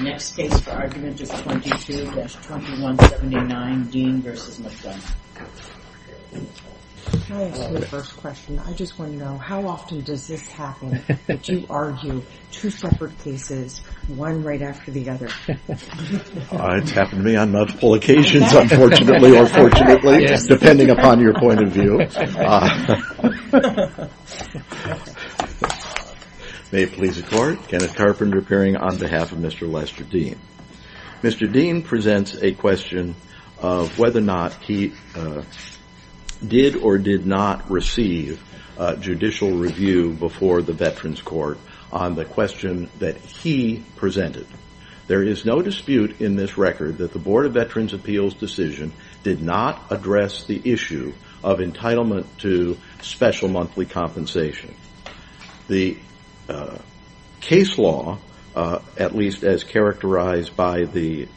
Next case for argument is 22-2179, Dean v. McDonough. Can I ask you a first question? I just want to know, how often does this happen that you argue two separate cases, one right after the other? It's happened to me on multiple occasions, unfortunately or fortunately, depending upon your point of view. May it please the court, Kenneth Carpenter appearing on behalf of Mr. Lester Dean. Mr. Dean presents a question of whether or not he did or did not receive judicial review before the Veterans Court on the question that he presented. There is no dispute in this record that the Board of Veterans' Appeals decision did not address the issue of entitlement to special monthly compensation. The case law, at least as characterized by the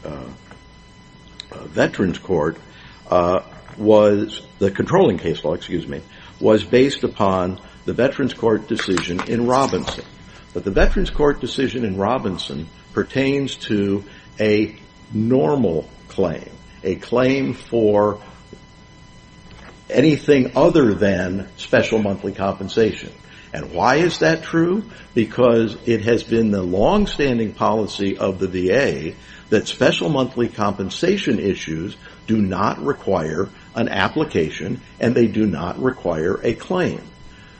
controlling case law, was based upon the Veterans Court decision in Robinson. The Veterans Court decision in Robinson pertains to a normal claim, a claim for anything other than special monthly compensation. Why is that true? Because it has been the long-standing policy of the VA that special monthly compensation issues do not require an application and they do not require a claim.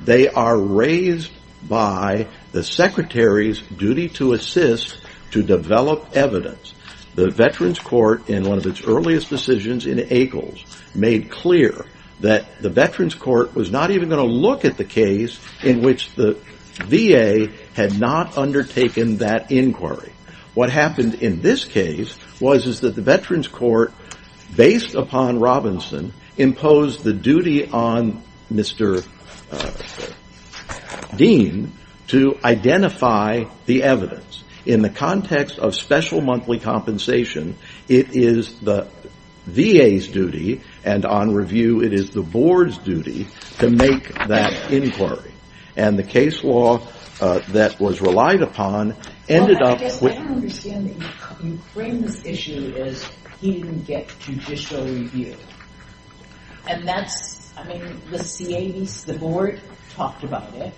They are raised by the Secretary's duty to assist to develop evidence. The Veterans Court, in one of its earliest decisions in Akles, made clear that the Veterans Court was not even going to look at the case in which the VA had not undertaken that inquiry. What happened in this case was that the Veterans Court, based upon Robinson, imposed the duty on Mr. Dean to identify the evidence. In the context of special monthly compensation, it is the VA's duty and on review it is the Board's duty to make that inquiry. The case law that was relied upon ended up... I don't understand that you frame this issue as he didn't get judicial review. The Board talked about it.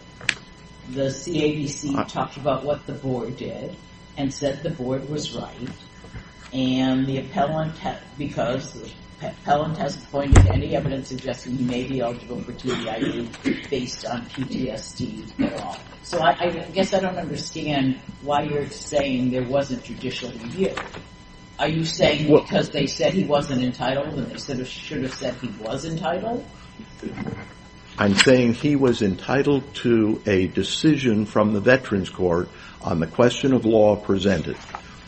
The CAVC talked about what the Board did and said the Board was right. I guess I don't understand why you're saying there wasn't judicial review. Are you saying because they said he wasn't entitled and they should have said he was entitled? I'm saying he was entitled to a decision from the Veterans Court on the question of law presented.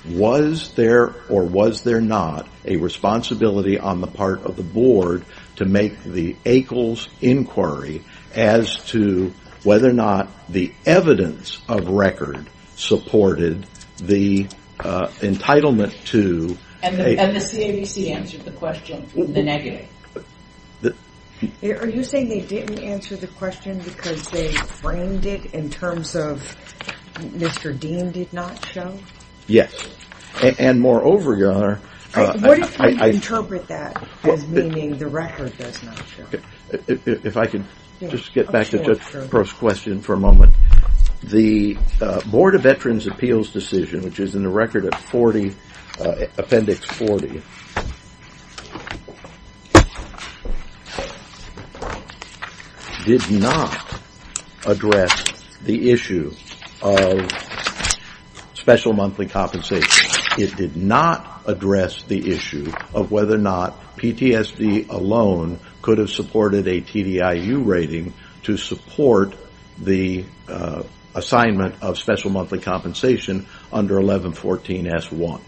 Was there or was there not a responsibility on the part of the Board to make the Akles inquiry as to whether or not the evidence of record supported the entitlement to... And the CAVC answered the question, the negative. Are you saying they didn't answer the question because they framed it in terms of Mr. Dean did not show? Yes, and moreover... What if I interpret that as meaning the record does not show? If I could just get back to the first question for a moment. The Board of Veterans Appeals decision, which is in the record at appendix 40, did not address the issue of special monthly compensation. It did not address the issue of whether or not PTSD alone could have supported a TDIU rating to support the assignment of special monthly compensation under 1114S1.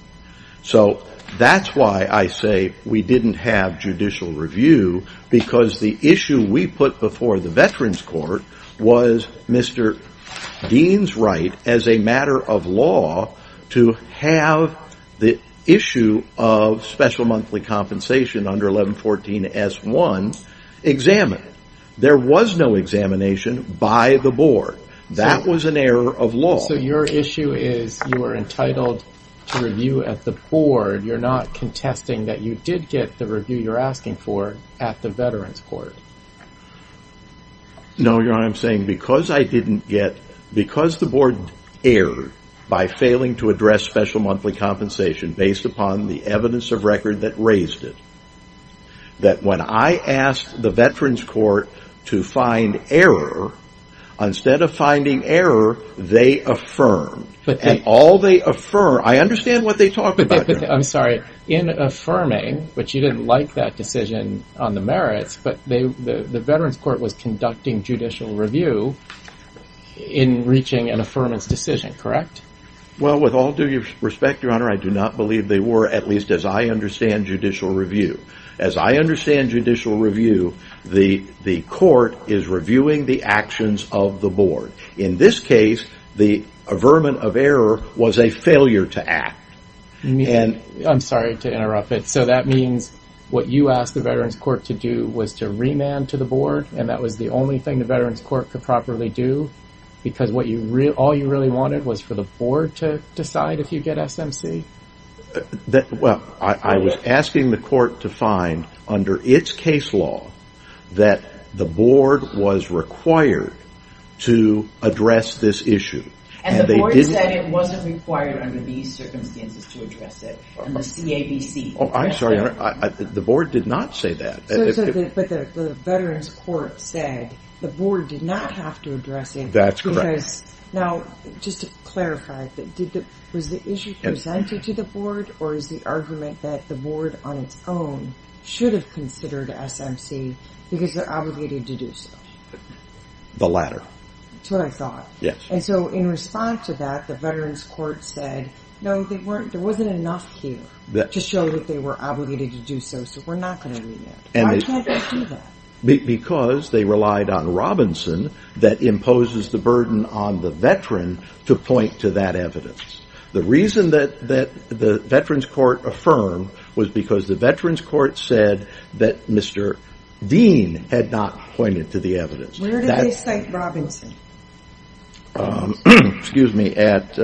So that's why I say we didn't have judicial review because the issue we put before the Veterans Court was Mr. Dean's right as a matter of law to have the issue of special monthly compensation under 1114S1 examined. There was no examination by the Board. That was an error of law. So your issue is you were entitled to review at the Board. You're not contesting that you did get the review you're asking for at the Veterans Court. No, you know what I'm saying? Because I didn't get... Because the Board erred by failing to address special monthly compensation based upon the evidence of record that raised it, that when I asked the Veterans Court to find error, instead of finding error, they affirmed. And all they affirmed... I understand what they talked about. I'm sorry. In affirming, which you didn't like that decision on the merits, but the Veterans Court was conducting judicial review in reaching an affirmance decision, correct? Well, with all due respect, Your Honor, I do not believe they were, at least as I understand judicial review. As I understand judicial review, the Court is reviewing the actions of the Board. In this case, the affirmance of error was a failure to act. I'm sorry to interrupt it. So that means what you asked the Veterans Court to do was to remand to the Board, and that was the only thing the Veterans Court could properly do? Because all you really wanted was for the Board to decide if you get SMC? Well, I was asking the Court to find, under its case law, that the Board was required to address this issue. As the Board said, it wasn't required under these circumstances to address it. I'm sorry, Your Honor, the Board did not say that. But the Veterans Court said the Board did not have to address it. That's correct. Now, just to clarify, was the issue presented to the Board, or is the argument that the Board on its own should have considered SMC because they're obligated to do so? The latter. That's what I thought. And so in response to that, the Veterans Court said, no, there wasn't enough here to show that they were obligated to do so, so we're not going to remand. Why can't they do that? Because they relied on Robinson that imposes the burden on the veteran to point to that evidence. The reason that the Veterans Court affirmed was because the Veterans Court said that Mr. Dean had not pointed to the evidence. Where did they cite Robinson? Excuse me, at...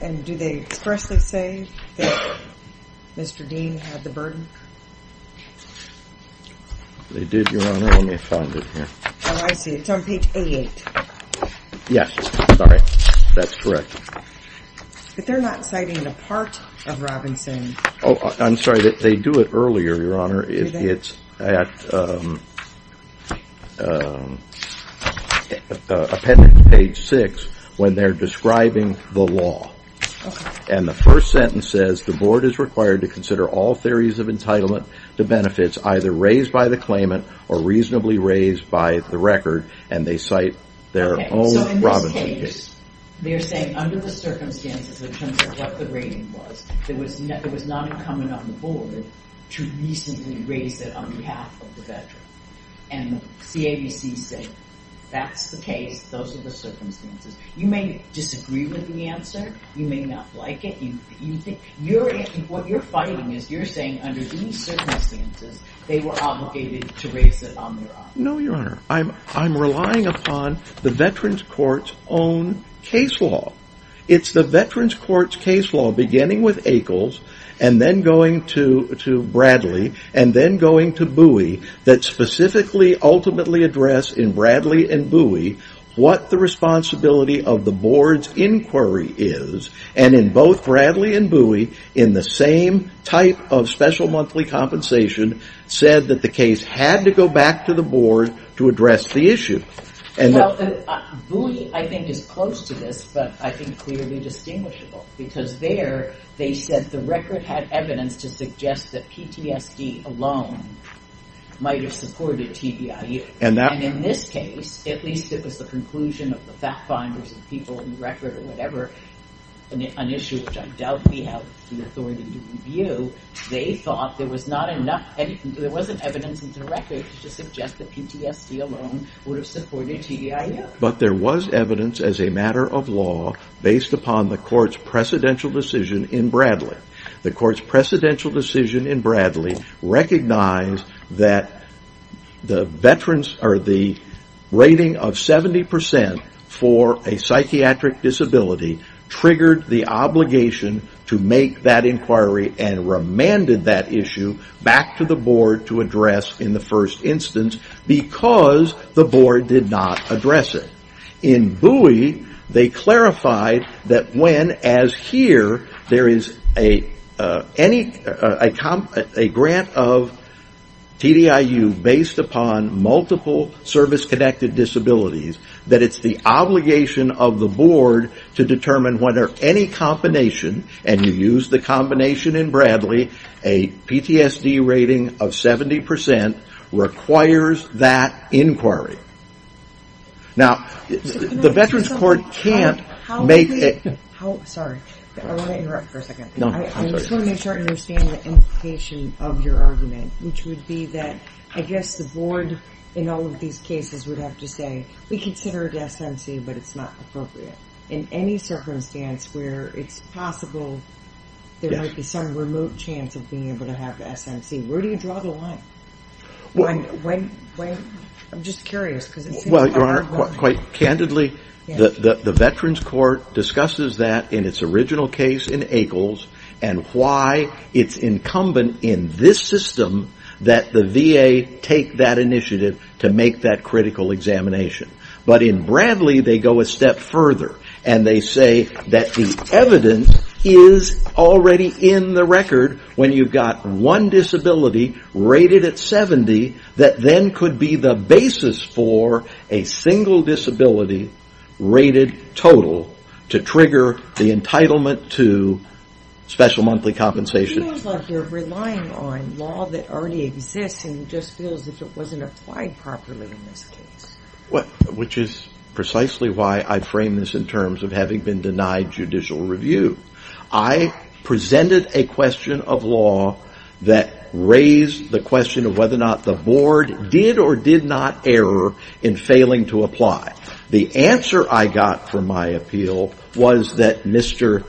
And do they expressly say that Mr. Dean had the burden? They did, Your Honor, only if I was in here. Oh, I see, it's on page A8. Yes, sorry, that's correct. But they're not citing a part of Robinson. Oh, I'm sorry, they do it earlier, Your Honor. Do they? It's at appendix page 6 when they're describing the law. Okay. And the first sentence says, the Board is required to consider all theories of entitlement to benefits either raised by the claimant or reasonably raised by the record, and they cite their own Robinson case. So in this case, they're saying under the circumstances in terms of what the rating was, it was not incumbent on the Board to reasonably raise it on behalf of the veteran. And the CABC said, that's the case, those are the circumstances. You may disagree with the answer, you may not like it. What you're fighting is you're saying under these circumstances, they were obligated to raise it on their own. No, Your Honor. I'm relying upon the Veterans Court's own case law. It's the Veterans Court's case law beginning with Akles and then going to Bradley and then going to Bowie that specifically ultimately address in Bradley and Bowie what the responsibility of the Board's inquiry is. And in both Bradley and Bowie, in the same type of special monthly compensation, said that the case had to go back to the Board to address the issue. Well, Bowie I think is close to this, but I think clearly distinguishable. Because there, they said the record had evidence to suggest that PTSD alone might have supported TBIU. And in this case, at least it was the conclusion of the fact finders and people in the record or whatever, an issue which I doubt we have the authority to review. They thought there was not enough, there wasn't evidence in the record to suggest that PTSD alone would have supported TBIU. But there was evidence as a matter of law based upon the Court's precedential decision in Bradley. The Court's precedential decision in Bradley recognized that the rating of 70% for a psychiatric disability triggered the obligation to make that inquiry and remanded that issue back to the Board to address in the first instance because the Board did not address it. In Bowie, they clarified that when, as here, there is a grant of TBIU based upon multiple service-connected disabilities, that it's the obligation of the Board to determine whether any combination, and you used the combination in Bradley, a PTSD rating of 70% requires that inquiry. Now, the Veterans Court can't make... Sorry, I want to interrupt for a second. I just want to make sure I understand the implication of your argument, which would be that I guess the Board in all of these cases would have to say, we consider it SMC, but it's not appropriate. In any circumstance where it's possible there might be some remote chance of being able to have SMC, where do you draw the line? I'm just curious. Well, Your Honor, quite candidly, the Veterans Court discusses that in its original case in Eagles and why it's incumbent in this system that the VA take that initiative to make that critical examination. But in Bradley, they go a step further and they say that the evidence is already in the record when you've got one disability rated at 70 that then could be the basis for a single disability rated total to trigger the entitlement to special monthly compensation. It feels like you're relying on law that already exists and just feels as if it wasn't applied properly in this case. Which is precisely why I frame this in terms of having been denied judicial review. I presented a question of law that raised the question of whether or not the Board did or did not error in failing to apply. The answer I got from my appeal was that Mr.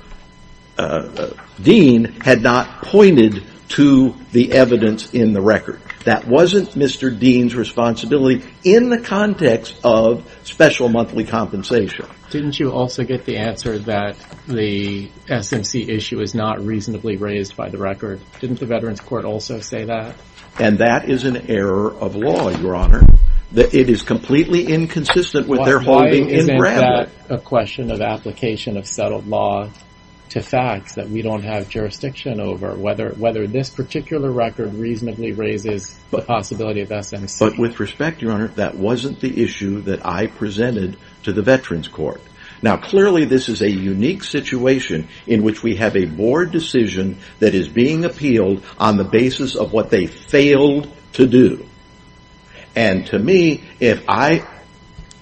Dean had not pointed to the evidence in the record. That wasn't Mr. Dean's responsibility in the context of special monthly compensation. Didn't you also get the answer that the SMC issue is not reasonably raised by the record? Didn't the Veterans Court also say that? And that is an error of law, Your Honor. It is completely inconsistent with their holding in Bradley. Why isn't that a question of application of settled law to facts that we don't have jurisdiction over? Whether this particular record reasonably raises the possibility of SMC. But with respect, Your Honor, that wasn't the issue that I presented to the Veterans Court. Now clearly this is a unique situation in which we have a Board decision that is being appealed on the basis of what they failed to do. And to me, if I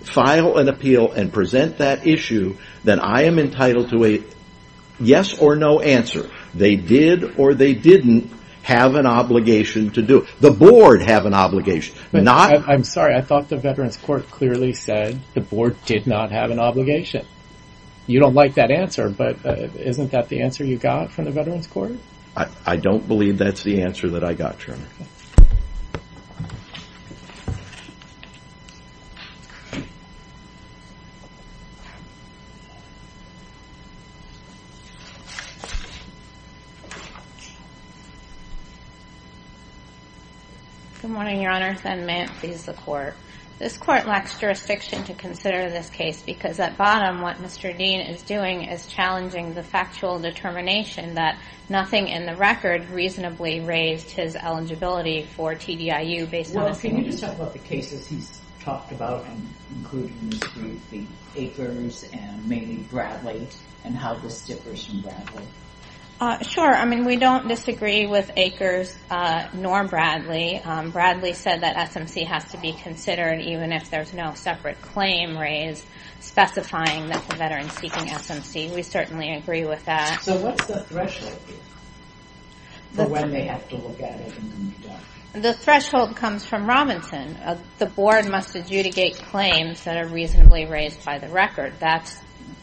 file an appeal and present that issue, then I am entitled to a yes or no answer. They did or they didn't have an obligation to do. The Board have an obligation. I'm sorry. I thought the Veterans Court clearly said the Board did not have an obligation. You don't like that answer, but isn't that the answer you got from the Veterans Court? I don't believe that's the answer that I got, Your Honor. Good morning, Your Honor. This court lacks jurisdiction to consider this case because at bottom what Mr. Dean is doing is challenging the factual determination that nothing in the record reasonably raised his eligibility for TDR. Well, can you just talk about the cases he's talked about including the Acres and mainly Bradley and how this differs from Bradley? Sure. I mean, we don't disagree with Acres nor Bradley. Bradley said that SMC has to be considered even if there's no separate claim raised specifying that the Veteran's seeking SMC. We certainly agree with that. So what's the threshold here for when they have to look at it? The threshold comes from Robinson. The Board must adjudicate claims that are reasonably raised by the record.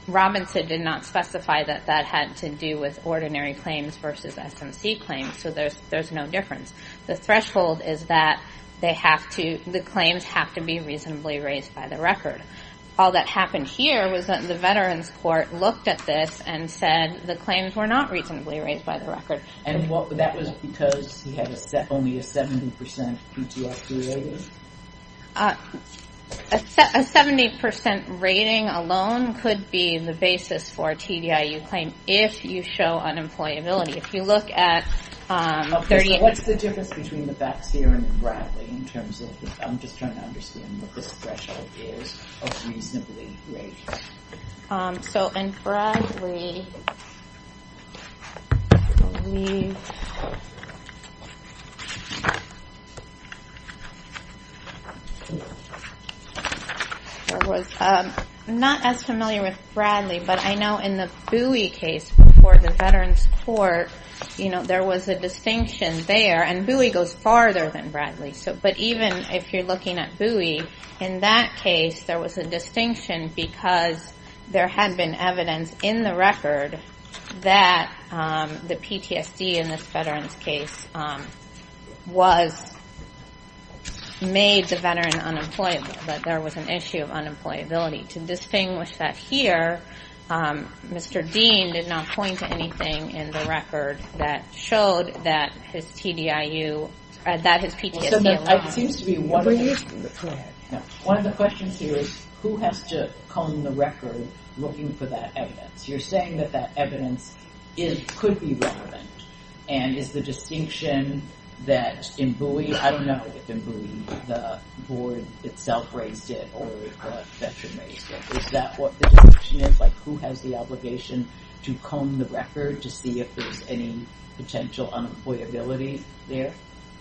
Robinson did not specify that that had to do with ordinary claims versus SMC claims, so there's no difference. The threshold is that the claims have to be reasonably raised by the record. All that happened here was that the Veterans Court looked at this and said the claims were not reasonably raised by the record. And that was because he had only a 70% PGR 3 rating? A 70% rating alone could be the basis for a TDIU claim if you show unemployability. If you look at... What's the difference between the Baxeer and Bradley in terms of... I'm just trying to understand what this threshold is of reasonably raised. So in Bradley... I'm not as familiar with Bradley, but I know in the Bowie case before the Veterans Court, there was a distinction there. And Bowie goes farther than Bradley. But even if you're looking at Bowie, in that case, there was a distinction because there had been evidence in the record that the PTSD in this veteran's case made the veteran unemployable, that there was an issue of unemployability. To distinguish that here, Mr. Dean did not point to anything in the record that showed that his PTSD... It seems to me one of the questions here is who has to comb the record looking for that evidence? You're saying that that evidence could be relevant. And is the distinction that in Bowie, I don't know if in Bowie the board itself raised it or the veteran raised it. Is that what the distinction is? Like who has the obligation to comb the record to see if there's any potential unemployability there?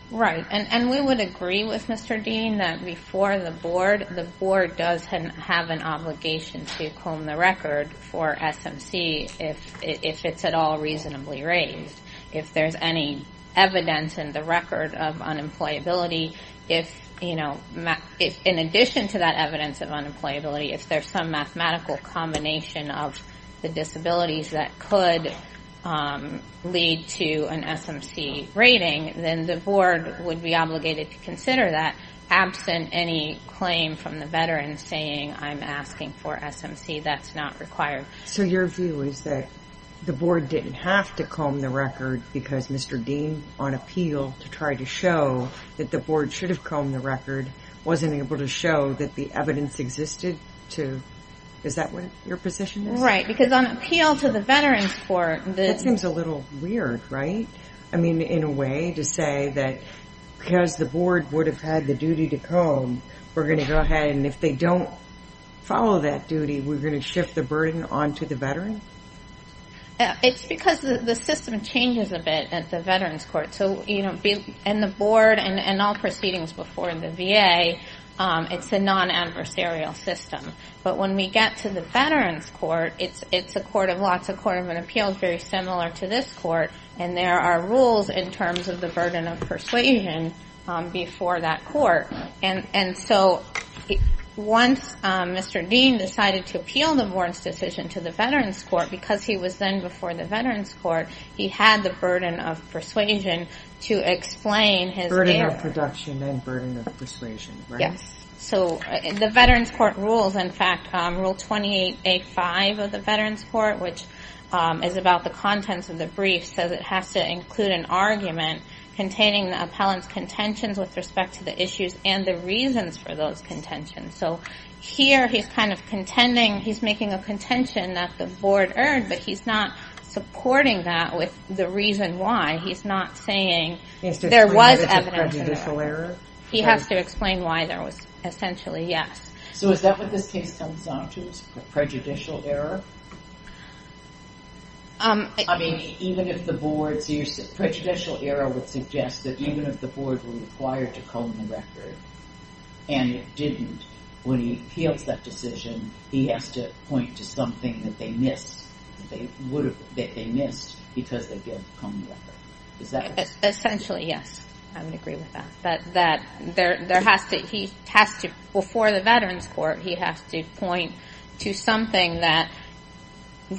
Right. And we would agree with Mr. Dean that before the board, the board does have an obligation to comb the record for SMC if it's at all reasonably raised. If there's any evidence in the record of unemployability, if in addition to that evidence of unemployability, if there's some mathematical combination of the disabilities that could lead to an SMC rating, then the board would be obligated to consider that absent any claim from the veteran saying I'm asking for SMC. That's not required. So your view is that the board didn't have to comb the record because Mr. Dean on appeal to try to show that the board should have combed the record and wasn't able to show that the evidence existed to, is that what your position is? Right. Because on appeal to the veterans court. That seems a little weird, right? I mean, in a way to say that because the board would have had the duty to comb, we're going to go ahead and if they don't follow that duty, we're going to shift the burden onto the veteran? It's because the system changes a bit at the veterans court. So, you know, and the board and all proceedings before the VA, it's a non-adversarial system. But when we get to the veterans court, it's a court of law. It's a court of an appeal very similar to this court. And there are rules in terms of the burden of persuasion before that court. And so once Mr. Dean decided to appeal the board's decision to the veterans court, because he was then before the veterans court, he had the burden of persuasion to explain his. Burden of production and burden of persuasion, right? Yes. So the veterans court rules, in fact, rule 28A5 of the veterans court, which is about the contents of the brief, says it has to include an argument containing the appellant's contentions with respect to the issues and the reasons for those contentions. So here, he's kind of contending, he's making a contention that the board earned, but he's not supporting that with the reason why. He's not saying there was evidence of that. He has to explain why there was a prejudicial error? He has to explain why there was essentially, yes. So is that what this case comes down to, a prejudicial error? I mean, even if the board's prejudicial error would suggest that even if the board were required to comb the record and it didn't, when he appeals that decision, he has to point to something that they missed, that they missed because they didn't comb the record. Is that right? Essentially, yes. I would agree with that. He has to, before the veterans court, he has to point to something that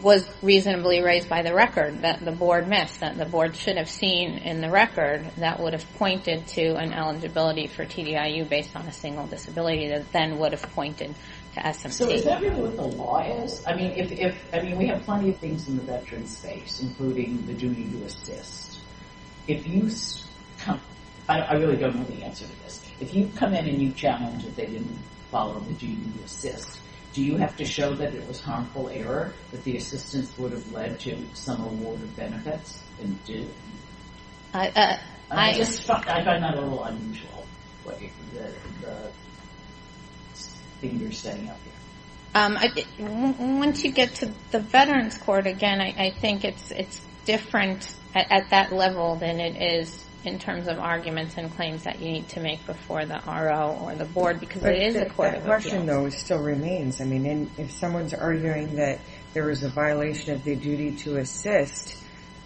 was reasonably raised by the record, that the board missed, that the board should have seen in the record, that would have pointed to an eligibility for TDIU based on a single disability, that then would have pointed to SMC. So is that really what the law is? I mean, we have plenty of things in the veterans space, including the duty to assist. If you, I really don't know the answer to this. If you come in and you challenge that they didn't follow the duty to assist, do you have to show that it was harmful error, that the assistance would have led to some award of benefits, and it didn't? I find that a little unusual, the thing you're stating out there. Once you get to the veterans court, again, I think it's different at that level than it is in terms of arguments and claims that you need to make before the RO or the board, because it is a court of appeals. That question, though, still remains. I mean, if someone's arguing that there was a violation of the duty to assist,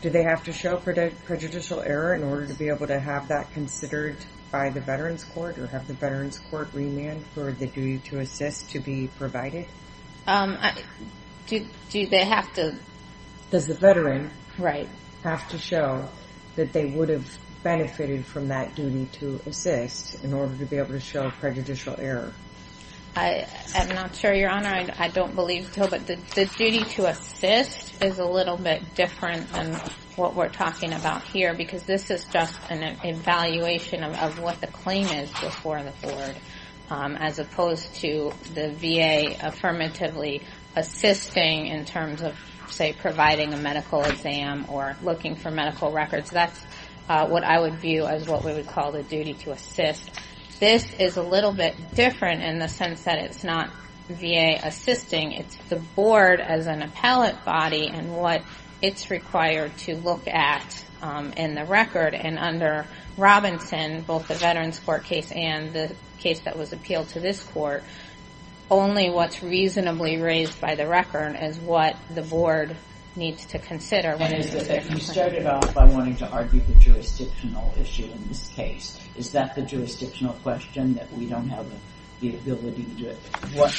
do they have to show prejudicial error in order to be able to have that considered by the veterans court, or have the veterans court remanded for the duty to assist to be provided? Do they have to? Does the veteran have to show that they would have benefited from that duty to assist in order to be able to show prejudicial error? I'm not sure, Your Honor. I don't believe so, but the duty to assist is a little bit different than what we're talking about here, because this is just an evaluation of what the claim is before the board, as opposed to the VA affirmatively assisting in terms of, say, providing a medical exam or looking for medical records. That's what I would view as what we would call the duty to assist. This is a little bit different in the sense that it's not VA assisting. It's the board as an appellate body and what it's required to look at in the record, and under Robinson, both the veterans court case and the case that was appealed to this court, only what's reasonably raised by the record is what the board needs to consider. You started off by wanting to argue the jurisdictional issue in this case. Is that the jurisdictional question, that we don't have the ability to do it? What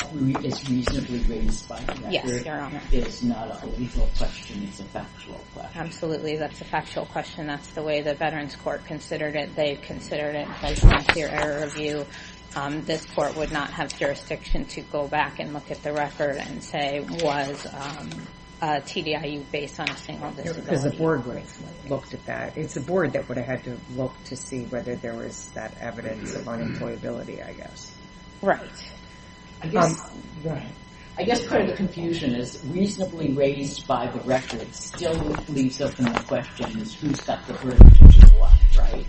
is reasonably raised by the record is not a legal question. It's a factual question. Absolutely, that's a factual question. That's the way the veterans court considered it. They considered it by some clear error of view. This court would not have jurisdiction to go back and look at the record and say, was TDIU based on a single disability? Because the board would have looked at that. It's the board that would have had to look to see whether there was that evidence of unemployability, I guess. Right. I guess part of the confusion is reasonably raised by the record still leaves us in the question, who's got the verdict and what, right?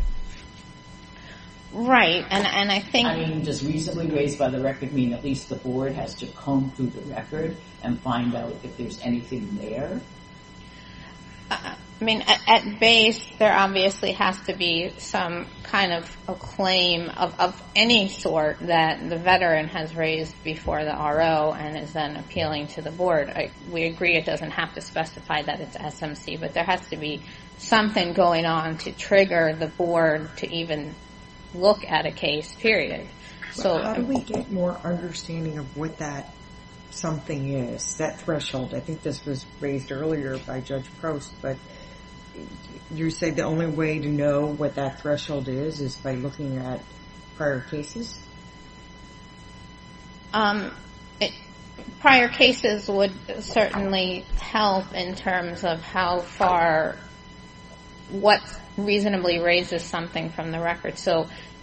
Right. Does reasonably raised by the record mean at least the board has to comb through the record and find out if there's anything there? I mean, at base, there obviously has to be some kind of a claim of any sort that the veteran has raised before the RO and is then appealing to the board. We agree it doesn't have to specify that it's SMC, but there has to be something going on to trigger the board to even look at a case, period. How do we get more understanding of what that something is, that threshold? I think this was raised earlier by Judge Prost, but you say the only way to know what that threshold is is by looking at prior cases? Prior cases would certainly help in terms of what reasonably raises something from the record.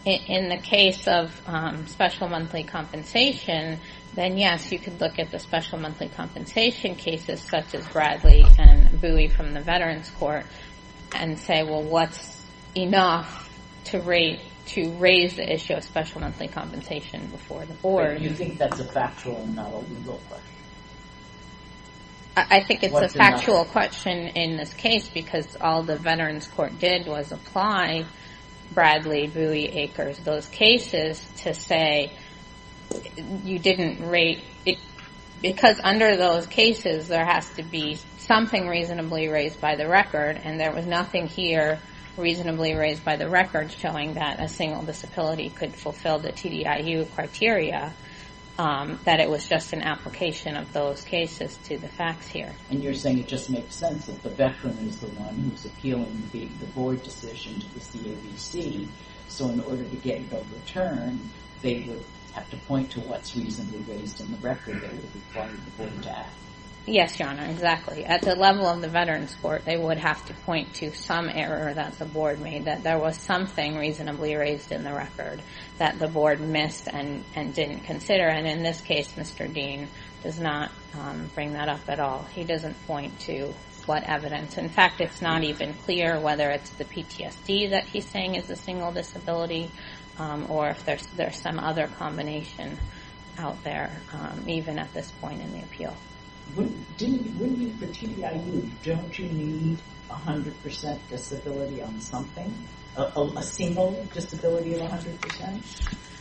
In the case of special monthly compensation, then yes, you could look at the special monthly compensation cases, such as Bradley and Bowie from the Veterans Court, and say, well, what's enough to raise the issue of special monthly compensation before the board? You think that's a factual and not a legal question? I think it's a factual question in this case, because all the Veterans Court did was apply Bradley, Bowie, Akers, those cases to say you didn't rate it. Because under those cases, there has to be something reasonably raised by the record, and there was nothing here reasonably raised by the record showing that a single disability could fulfill the TDIU criteria, that it was just an application of those cases to the facts here. And you're saying it just makes sense that the veteran is the one who's appealing the board decision to the CAVC, so in order to get it overturned, they would have to point to what's reasonably raised in the record that would require the board to act? Yes, Your Honor, exactly. At the level of the Veterans Court, they would have to point to some error that the board made, that there was something reasonably raised in the record that the board missed and didn't consider, and in this case, Mr. Dean does not bring that up at all. He doesn't point to what evidence. In fact, it's not even clear whether it's the PTSD that he's saying is a single disability or if there's some other combination out there, even at this point in the appeal. Wouldn't you, for TDIU, don't you need 100% disability on something? A single disability of 100%?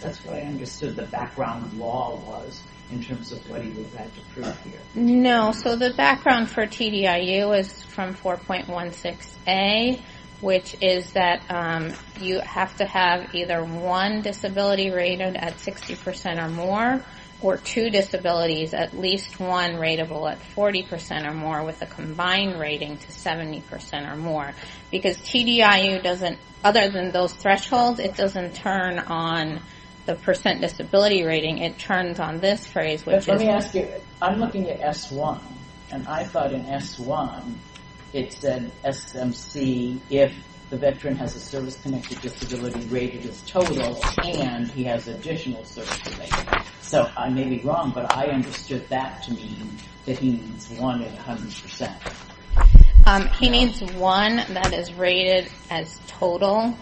That's what I understood the background law was in terms of what he would have to prove here. No, so the background for TDIU is from 4.16a, which is that you have to have either one disability rated at 60% or more or two disabilities, at least one rateable at 40% or more with a combined rating to 70% or more because TDIU doesn't, other than those thresholds, it doesn't turn on the percent disability rating. It turns on this phrase, which is... S1, and I thought in S1 it said SMC if the veteran has a service-connected disability rated as total and he has additional service-connected. So I may be wrong, but I understood that to mean that he needs one at 100%. He needs one that is rated as total,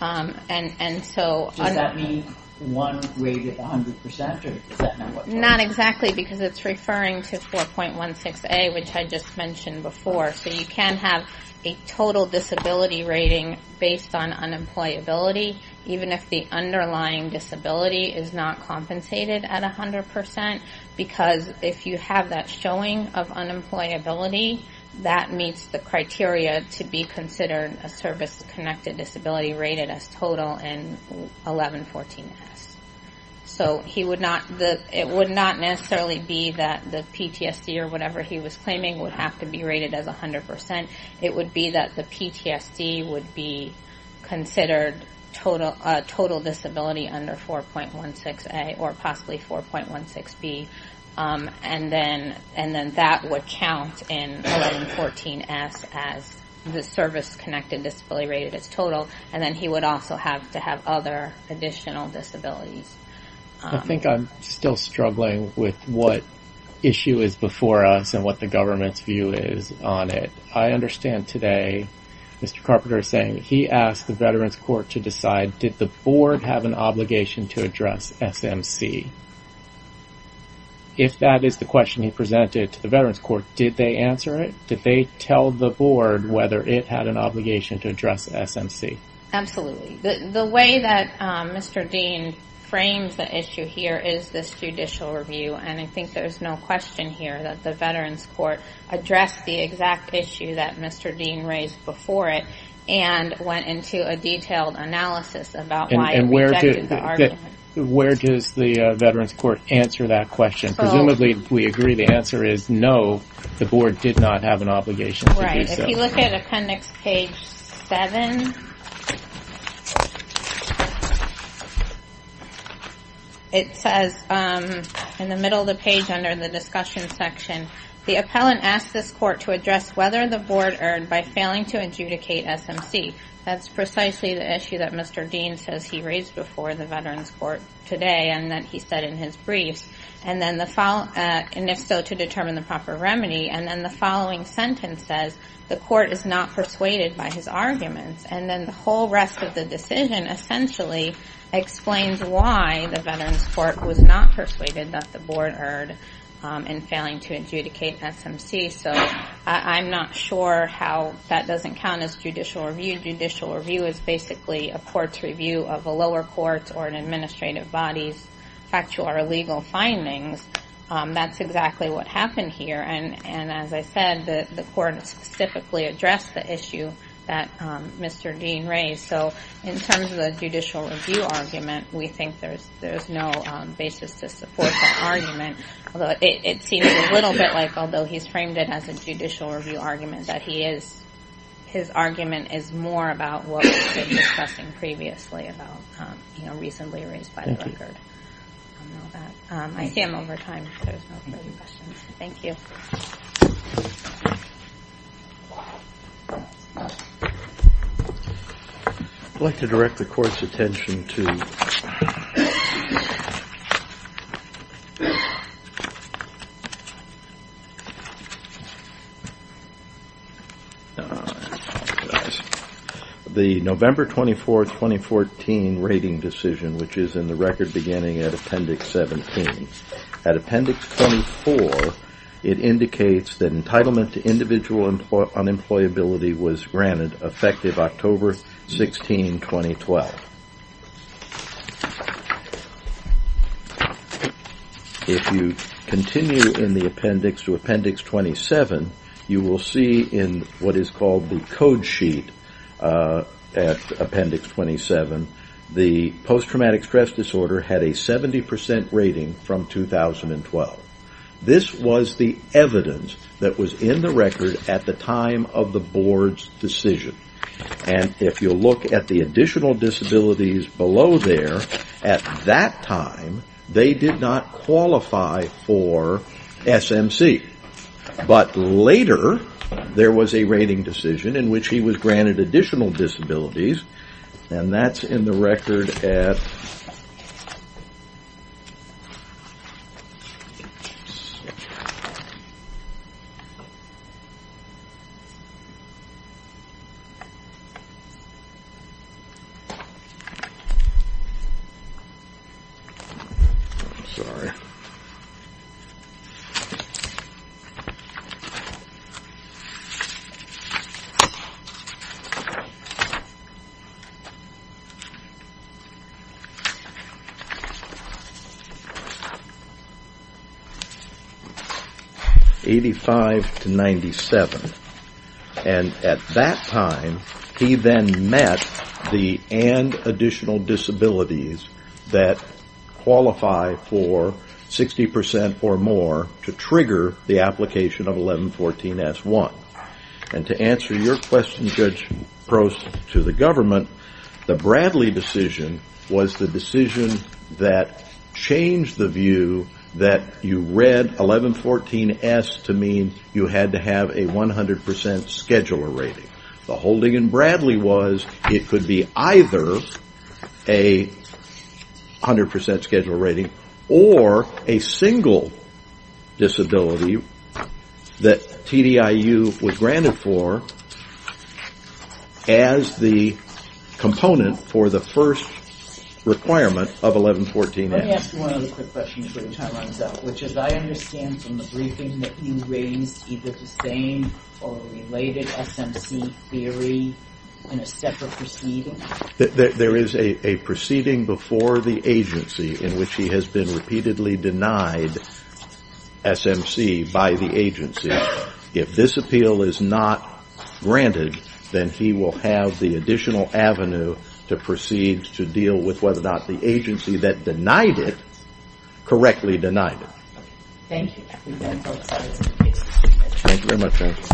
and so... Does that mean one rated at 100% or is that not what... Not exactly because it's referring to 4.16a, which I just mentioned before. So you can have a total disability rating based on unemployability, even if the underlying disability is not compensated at 100% because if you have that showing of unemployability, that meets the criteria to be considered a service-connected disability rated as total in 1114S. So it would not necessarily be that the PTSD or whatever he was claiming would have to be rated as 100%. It would be that the PTSD would be considered a total disability under 4.16a or possibly 4.16b, and then that would count in 1114S as the service-connected disability rated as total, and then he would also have to have other additional disabilities. I think I'm still struggling with what issue is before us and what the government's view is on it. I understand today Mr. Carpenter is saying he asked the Veterans Court to decide, did the board have an obligation to address SMC? If that is the question he presented to the Veterans Court, did they answer it? Did they tell the board whether it had an obligation to address SMC? Absolutely. The way that Mr. Dean frames the issue here is this judicial review, and I think there's no question here that the Veterans Court addressed the exact issue that Mr. Dean raised before it and went into a detailed analysis about why it rejected the argument. Where does the Veterans Court answer that question? Presumably we agree the answer is no, the board did not have an obligation to do so. If you look at appendix page 7, it says in the middle of the page under the discussion section, the appellant asked this court to address whether the board earned by failing to adjudicate SMC. That's precisely the issue that Mr. Dean says he raised before the Veterans Court today and that he said in his briefs, and if so, to determine the proper remedy. And then the following sentence says the court is not persuaded by his arguments. And then the whole rest of the decision essentially explains why the Veterans Court was not persuaded that the board earned in failing to adjudicate SMC. So I'm not sure how that doesn't count as judicial review. Judicial review is basically a court's review of a lower court's or an administrative body's factual or legal findings. That's exactly what happened here. And as I said, the court specifically addressed the issue that Mr. Dean raised. So in terms of the judicial review argument, we think there's no basis to support that argument. Although it seems a little bit like although he's framed it as a judicial review argument, that his argument is more about what we've been discussing previously about recently raised by the record. I see I'm over time, so there's no further questions. Thank you. I'd like to direct the court's attention to. The November 24th, 2014 rating decision, which is in the record beginning at Appendix 17. At Appendix 24, it indicates that entitlement to individual unemployability was granted effective October 16, 2012. If you continue in the appendix to Appendix 27, you will see in what is called the code sheet at Appendix 27, the post-traumatic stress disorder had a 70% rating from 2012. This was the evidence that was in the record at the time of the board's decision. And if you look at the additional disabilities below there, at that time, they did not qualify for SMC. But later, there was a rating decision in which he was granted additional disabilities. And that's in the record at. I'm sorry. 85 to 97. And at that time, he then met the and additional disabilities that qualify for 60% or more to trigger the application of 1114-S1. And to answer your question, Judge Prost, to the government, the Bradley decision was the decision that changed the view that you read 1114-S to mean you had to have a 100% scheduler rating. The holding in Bradley was it could be either a 100% scheduler rating or a single disability that TDIU was granted for as the component for the first requirement of 1114-S. Let me ask you one other quick question before the time runs out, which is I understand from the briefing that you raised either the same or related SMC theory in a separate proceeding? There is a proceeding before the agency in which he has been repeatedly denied SMC by the agency. If this appeal is not granted, then he will have the additional avenue to proceed to deal with whether or not the agency that denied it correctly denied it. Thank you.